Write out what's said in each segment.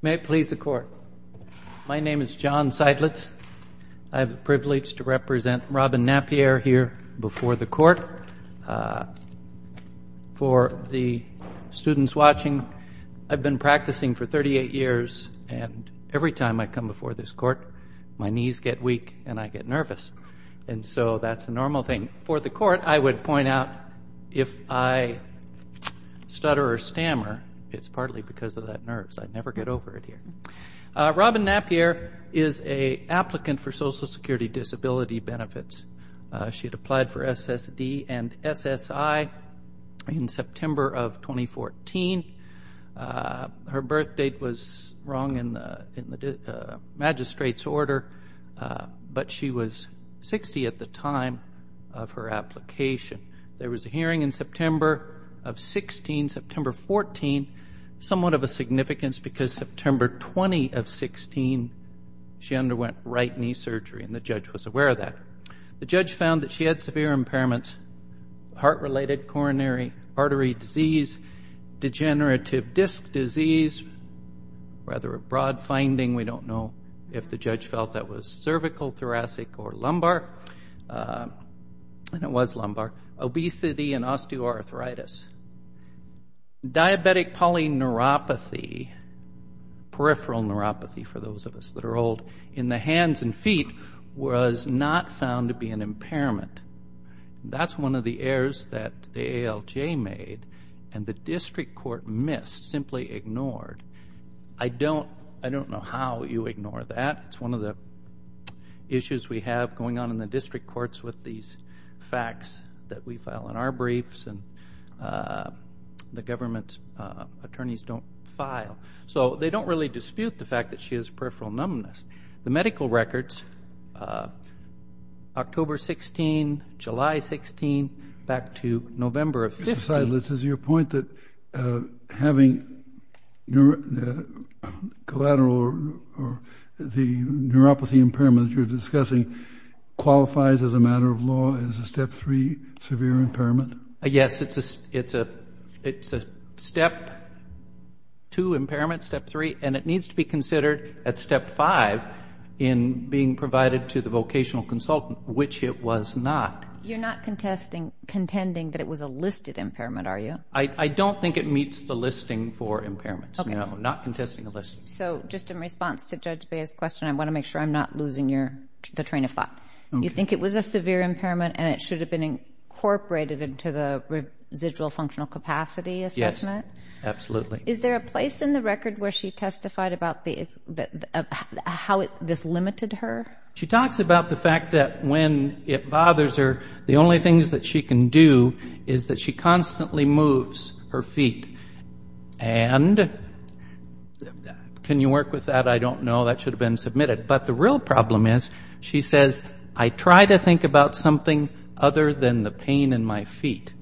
May it please the court. My name is John Seidlitz. I have the privilege to represent Robin Napier here before the court. For the students watching, I've been practicing for 38 years. And every time I come before this court, my knees get weak and I get nervous. And so that's a normal thing. For the court, I would point out if I stutter or stammer, it's partly because of that nerves. I never get over it here. Robin Napier is a applicant for Social Security Disability Benefits. She had applied for SSD and SSI in September of 2014. Her birth date was wrong in the magistrate's order, but she was 60 at the time of her application. There was a hearing in September of 16, September 14. Somewhat of a significance, because September 20 of 16, she underwent right knee surgery. And the judge was aware of that. The judge found that she had severe impairments, heart-related coronary artery disease, degenerative disc disease. Rather a broad finding. We don't know if the judge felt that was cervical, thoracic, or lumbar. And it was lumbar. Obesity and osteoarthritis. Diabetic polyneuropathy, peripheral neuropathy for those of us that are old, in the hands and feet was not found to be an impairment. That's one of the errors that the ALJ made and the district court missed, simply ignored. I don't know how you ignore that. It's one of the issues we have going on in the district courts with these facts that we file in our briefs and the government attorneys don't file. So they don't really dispute the fact that she has peripheral numbness. The medical records, October 16, July 16, back to November 15. Mr. Seidlitz, is your point that having collateral or the neuropathy impairment that you're discussing qualifies as a matter of law as a Step 3 severe impairment? Yes, it's a Step 2 impairment, Step 3. And it needs to be considered at Step 5 in being provided to the vocational consultant, which it was not. You're not contending that it was a listed impairment, are you? Not contesting a listing. So just in response to Judge Bea's question, I want to make sure I'm not losing the train of thought. You think it was a severe impairment and it should have been incorporated into the residual functional capacity assessment? Yes, absolutely. Is there a place in the record where she testified about how this limited her? She talks about the fact that when it bothers her, the only things that she can do is that she constantly moves her feet. And can you work with that? I don't know. That should have been submitted. But the real problem is, she says, I try to think about something other than the pain in my feet.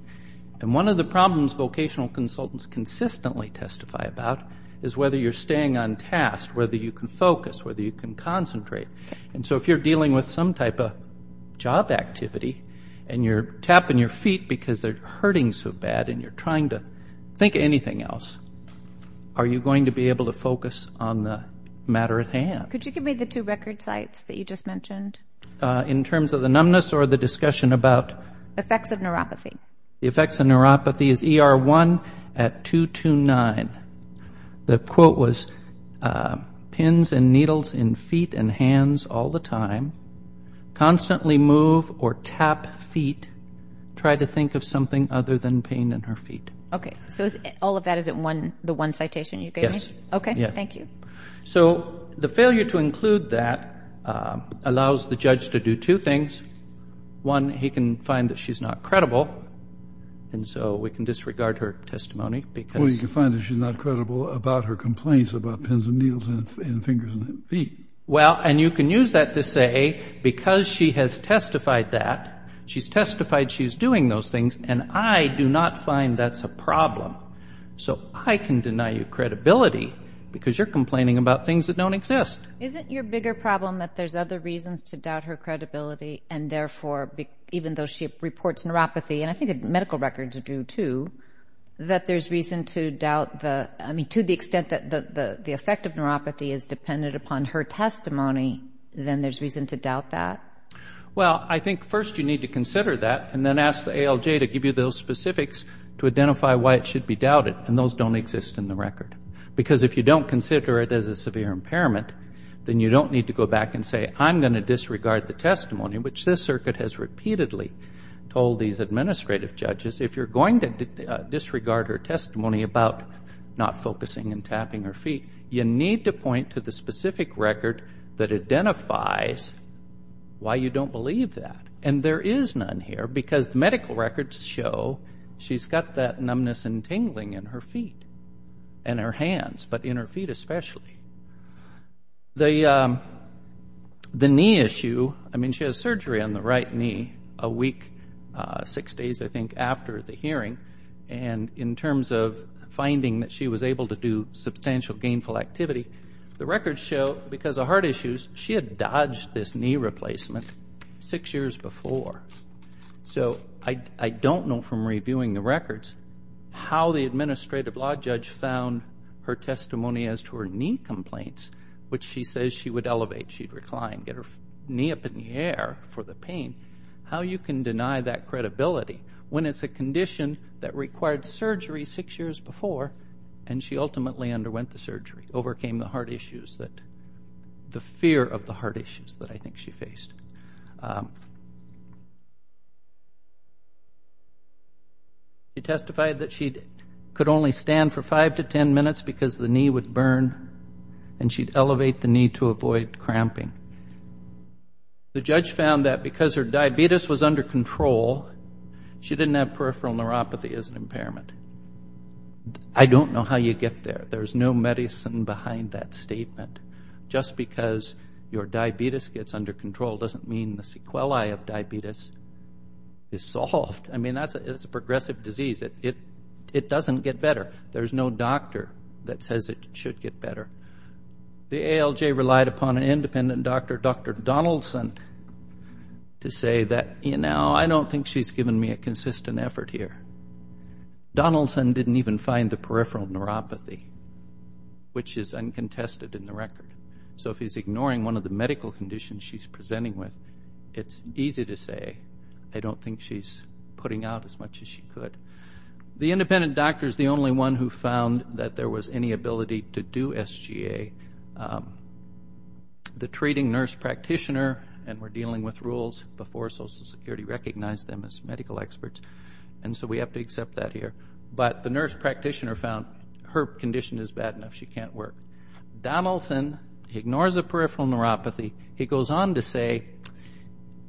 And one of the problems vocational consultants consistently testify about is whether you're staying on task, whether you can focus, whether you can concentrate. And so if you're dealing with some type of job activity and you're tapping your feet because they're hurting so bad and you're trying to think anything else, are you going to be able to focus on the matter at hand? Could you give me the two record sites that you just mentioned? In terms of the numbness or the discussion about? Effects of neuropathy. The effects of neuropathy is ER1 at 229. The quote was, pins and needles in feet and hands all the time. Constantly move or tap feet. Try to think of something other than pain in her feet. OK. So all of that is in the one citation you gave me? Yes. OK. Thank you. So the failure to include that allows the judge to do two things. One, he can find that she's not credible. And so we can disregard her testimony because. Or you can find that she's not credible about her complaints about pins and needles in fingers and feet. Well, and you can use that to say, because she has testified that. She's testified she's doing those things. And I do not find that's a problem. So I can deny you credibility because you're complaining about things that don't exist. Isn't your bigger problem that there's other reasons to doubt her credibility? And therefore, even though she reports neuropathy, and I think the medical records do too, that there's reason to doubt the, I mean, to the extent that the effect of neuropathy is dependent upon her testimony, then there's reason to doubt that? Well, I think first you need to consider that and then ask the ALJ to give you those specifics to identify why it should be doubted. And those don't exist in the record. Because if you don't consider it as a severe impairment, then you don't need to go back and say, I'm going to disregard the testimony, which this circuit has repeatedly told these administrative judges. If you're going to disregard her testimony about not focusing and tapping her feet, you need to point to the specific record that identifies why you don't believe that. And there is none here because the medical records show she's got that numbness and tingling in her feet and her hands, but in her feet especially. The knee issue, I mean, she has surgery on the right knee a week, six days, I think, after the hearing. And in terms of finding that she was able to do substantial gainful activity, the records show, because of heart issues, she had dodged this knee replacement six years before. So I don't know from reviewing the records how the administrative law judge found her testimony as to her knee complaints, which she says she would elevate, she'd recline, get her knee up in the air for the pain, how you can deny that credibility when it's a condition that required surgery six years before and she ultimately underwent the surgery, overcame the heart issues, the fear of the heart issues that I think she faced. She testified that she could only stand for five to 10 minutes because the knee would burn and she'd elevate the knee to avoid cramping. The judge found that because her diabetes was under control, she didn't have peripheral neuropathy as an impairment. I don't know how you get there. There's no medicine behind that statement. Just because your diabetes gets under control doesn't mean the sequelae of diabetes is solved. I mean, it's a progressive disease. It doesn't get better. There's no doctor that says it should get better. The ALJ relied upon an independent doctor, Dr. Donaldson, to say that, you know, I don't think she's given me a consistent effort here. Donaldson didn't even find the peripheral neuropathy, which is uncontested in the record. So if he's ignoring one of the medical conditions she's presenting with, it's easy to say, I don't think she's putting out as much as she could. The independent doctor's the only one who found that there was any ability to do SGA. The treating nurse practitioner, and we're dealing with rules before Social Security recognized them as medical experts, and so we have to accept that here, but the nurse practitioner found her condition is bad enough. She can't work. Donaldson ignores the peripheral neuropathy. He goes on to say,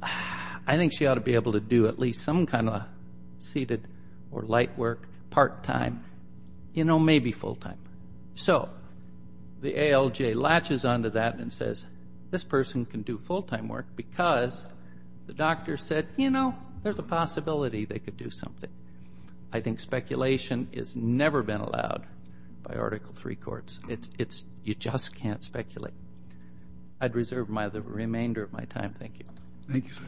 I think she ought to be able to do at least some kind of seated or light work part-time, you know, maybe full-time. So the ALJ latches onto that and says, this person can do full-time work because the doctor said, you know, there's a possibility they could do something. I think speculation has never been allowed by Article III courts. It's, you just can't speculate. I'd reserve the remainder of my time. Thank you. Thank you, sir.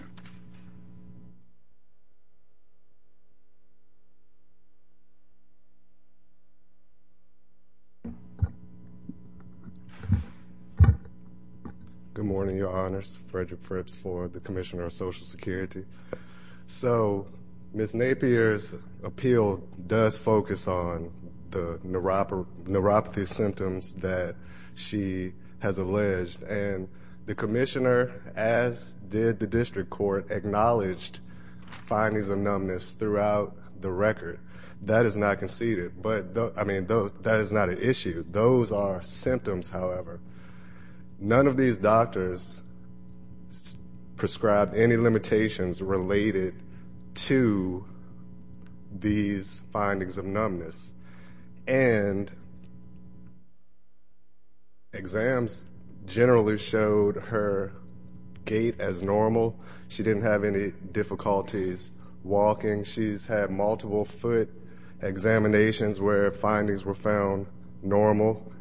Good morning, Your Honors. Frederick Fripps for the Commissioner of Social Security. So Ms. Napier's appeal does focus on the neuropathy symptoms that she has alleged, and the commissioner, as did the district court, acknowledged findings of numbness throughout the record. That is not conceded, but, I mean, that is not an issue. Those are symptoms, however. None of these doctors prescribed any limitations related to these findings of numbness. And exams generally showed her gait as normal. She didn't have any difficulties walking. She's had multiple foot examinations where findings were found normal.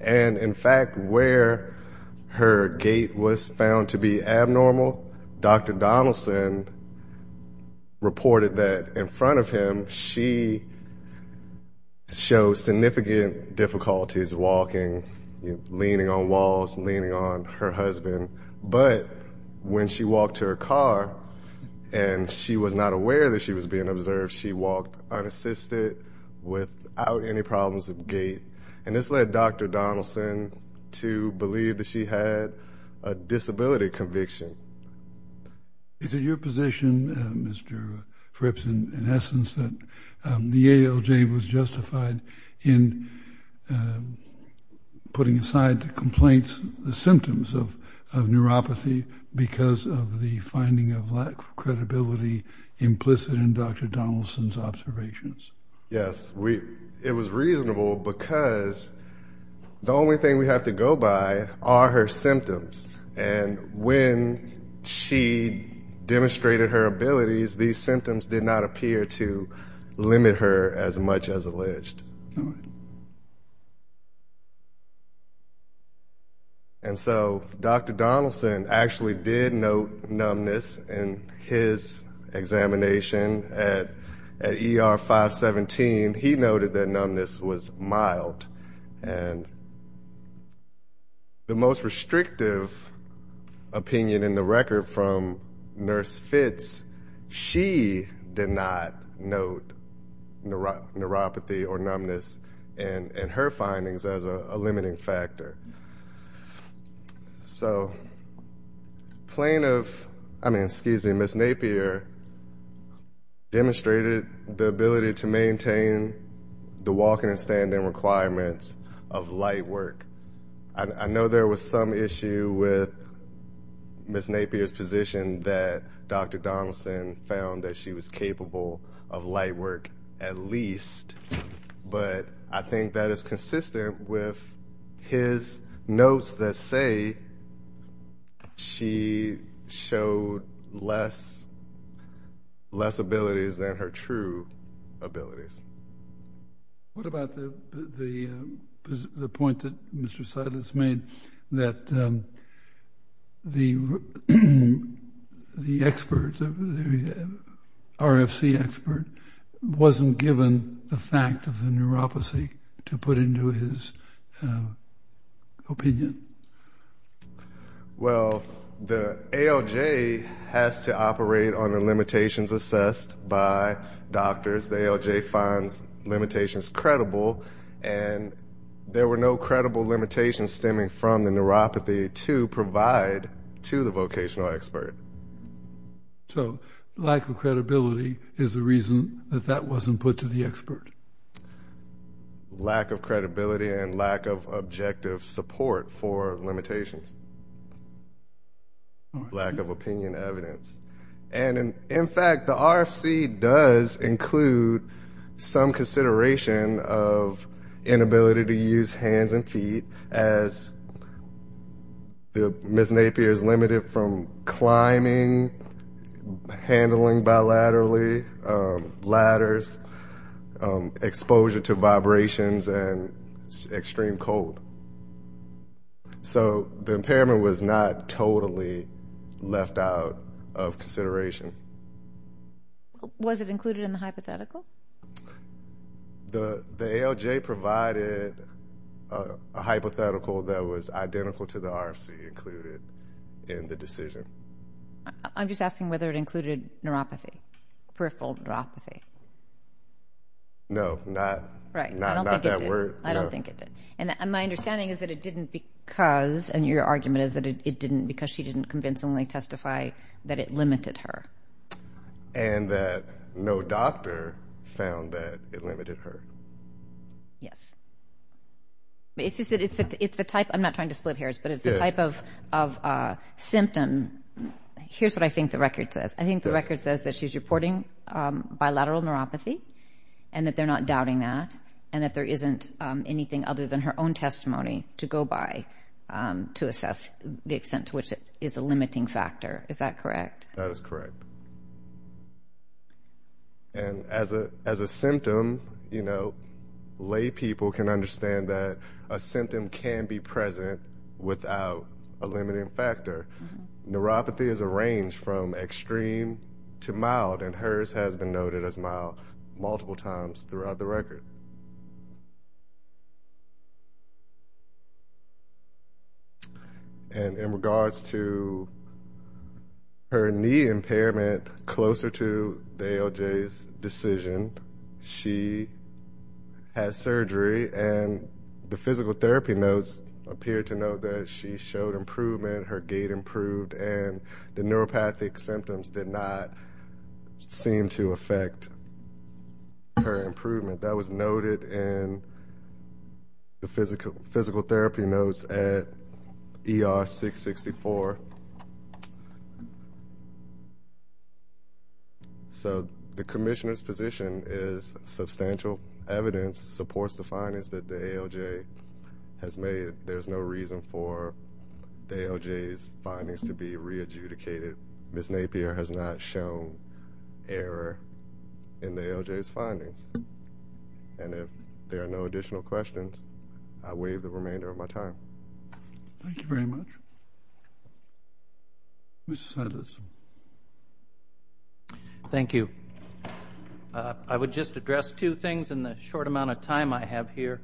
And in fact, where her gait was found to be abnormal, Dr. Donaldson reported that in front of him, she showed significant difficulties walking, leaning on walls, leaning on her husband. But when she walked to her car, and she was not aware that she was being observed, she walked unassisted without any problems of gait. And this led Dr. Donaldson to believe that she had a disability conviction. Is it your position, Mr. Fripps, in essence, that the ALJ was justified in putting aside the complaints, the symptoms of neuropathy, because of the finding of lack of credibility implicit in Dr. Donaldson's observations? Yes, it was reasonable, because the only thing we have to go by are her symptoms. And when she demonstrated her abilities, these symptoms did not appear to limit her as much as alleged. And so Dr. Donaldson actually did note numbness in his examination at ER 517. He noted that numbness was mild. And the most restrictive opinion in the record from Nurse Fitz, she did not note neuropathy or numbness in her findings as a limiting factor. So plaintiff, I mean, excuse me, Ms. Napier demonstrated the ability to maintain the walking and standing requirements of light work. I know there was some issue with Ms. Napier's position that Dr. Donaldson found that she was capable of light work at least, but I think that is consistent with his notes that say, she showed less abilities than her true abilities. What about the point that Mr. Silas made that the experts, the RFC expert, wasn't given the fact of the neuropathy to put into his opinion? Well, the ALJ has to operate on the limitations assessed by doctors. The ALJ finds limitations credible, and there were no credible limitations stemming from the neuropathy to provide to the vocational expert. So lack of credibility is the reason that that wasn't put to the expert. Lack of credibility and lack of objective support for limitations, lack of opinion evidence. And in fact, the RFC does include some consideration of inability to use hands and feet as Ms. Napier is limited from climbing, handling bilaterally ladders, exposure to vibrations, and extreme cold. So the impairment was not totally left out of consideration. Was it included in the hypothetical? The ALJ provided a hypothetical that was identical to the RFC included in the decision. I'm just asking whether it included neuropathy, peripheral neuropathy. No, not that word. I don't think it did. And my understanding is that it didn't because, and your argument is that it didn't because she didn't convincingly testify that it limited her. And that no doctor found that it limited her. Yes. It's just that it's the type, I'm not trying to split hairs, but it's the type of symptom. Here's what I think the record says. I think the record says that she's reporting bilateral neuropathy and that they're not doubting that. And that there isn't anything other than her own testimony to go by to assess the extent to which it is a limiting factor, is that correct? That is correct. And as a symptom, lay people can understand that a symptom can be present without a limiting factor. Neuropathy is a range from extreme to mild and hers has been noted as mild multiple times throughout the record. And in regards to her knee impairment closer to the ALJ's decision, she had surgery and the physical therapy notes appeared to note that she showed improvement, her gait improved, and the neuropathic symptoms did not seem to affect her improvement. That was noted in the record. That was noted in the physical therapy notes at ER664. So the commissioner's position is substantial evidence supports the findings that the ALJ has made. There's no reason for the ALJ's findings to be re-adjudicated. Ms. Napier has not shown error in the ALJ's findings. And if there are no additional questions, I'll waive the remainder of my time. Thank you very much. Mr. Silas. Thank you. I would just address two things in the short amount of time I have here.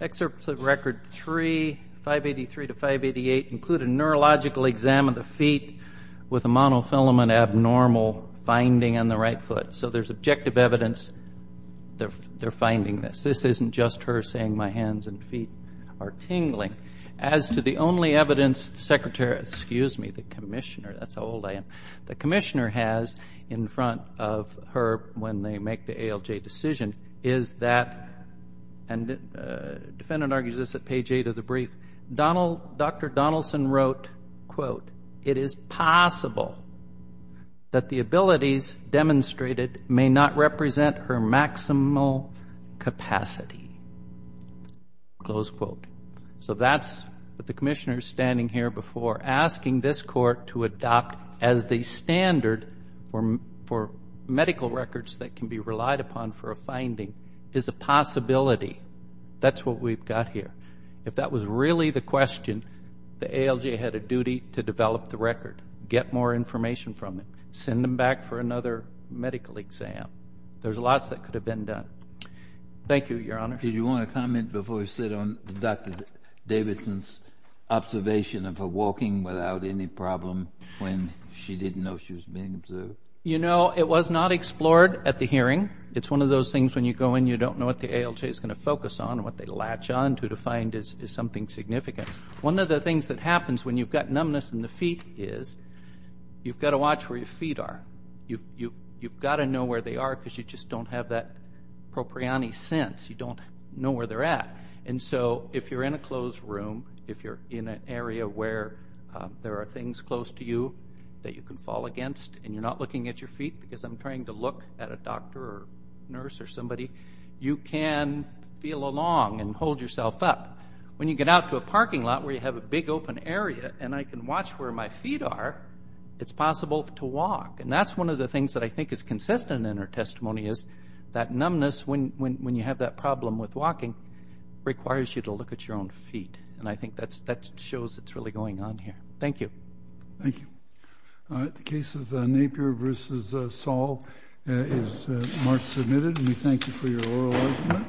Excerpts of record three, 583 to 588 include a neurological exam of the feet with a monofilament abnormal finding on the right foot. So there's objective evidence they're finding this. This isn't just her saying my hands and feet are tingling. As to the only evidence the secretary, excuse me, the commissioner, that's how old I am, the commissioner has in front of her when they make the ALJ decision is that, and the defendant argues this at page eight of the brief, Dr. Donaldson wrote, quote, it is possible that the abilities demonstrated may not represent her maximal capacity, close quote. So that's what the commissioner's standing here before asking this court to adopt as the standard for medical records that can be relied upon for a finding is a possibility. That's what we've got here. If that was really the question, the ALJ had a duty to develop the record, get more information from it, send them back for another medical exam. There's lots that could have been done. Thank you, Your Honor. Did you want to comment before we sit on Dr. Davidson's observation of her walking without any problem when she didn't know she was being observed? You know, it was not explored at the hearing. It's one of those things when you go in, you don't know what the ALJ is going to focus on and what they latch onto to find is something significant. One of the things that happens when you've got numbness in the feet is you've got to watch where your feet are. You've got to know where they are because you just don't have that propriony sense. You don't know where they're at. And so if you're in a closed room, if you're in an area where there are things close to you that you can fall against and you're not looking at your feet because I'm trying to look at a doctor or nurse or somebody, you can feel along and hold yourself up. When you get out to a parking lot where you have a big open area and I can watch where my feet are, it's possible to walk. And that's one of the things that I think is consistent in her testimony is that numbness, when you have that problem with walking, requires you to look at your own feet. And I think that shows it's really going on here. Thank you. Thank you. All right, the case of Napier versus Saul is marked submitted and we thank you for your oral argument.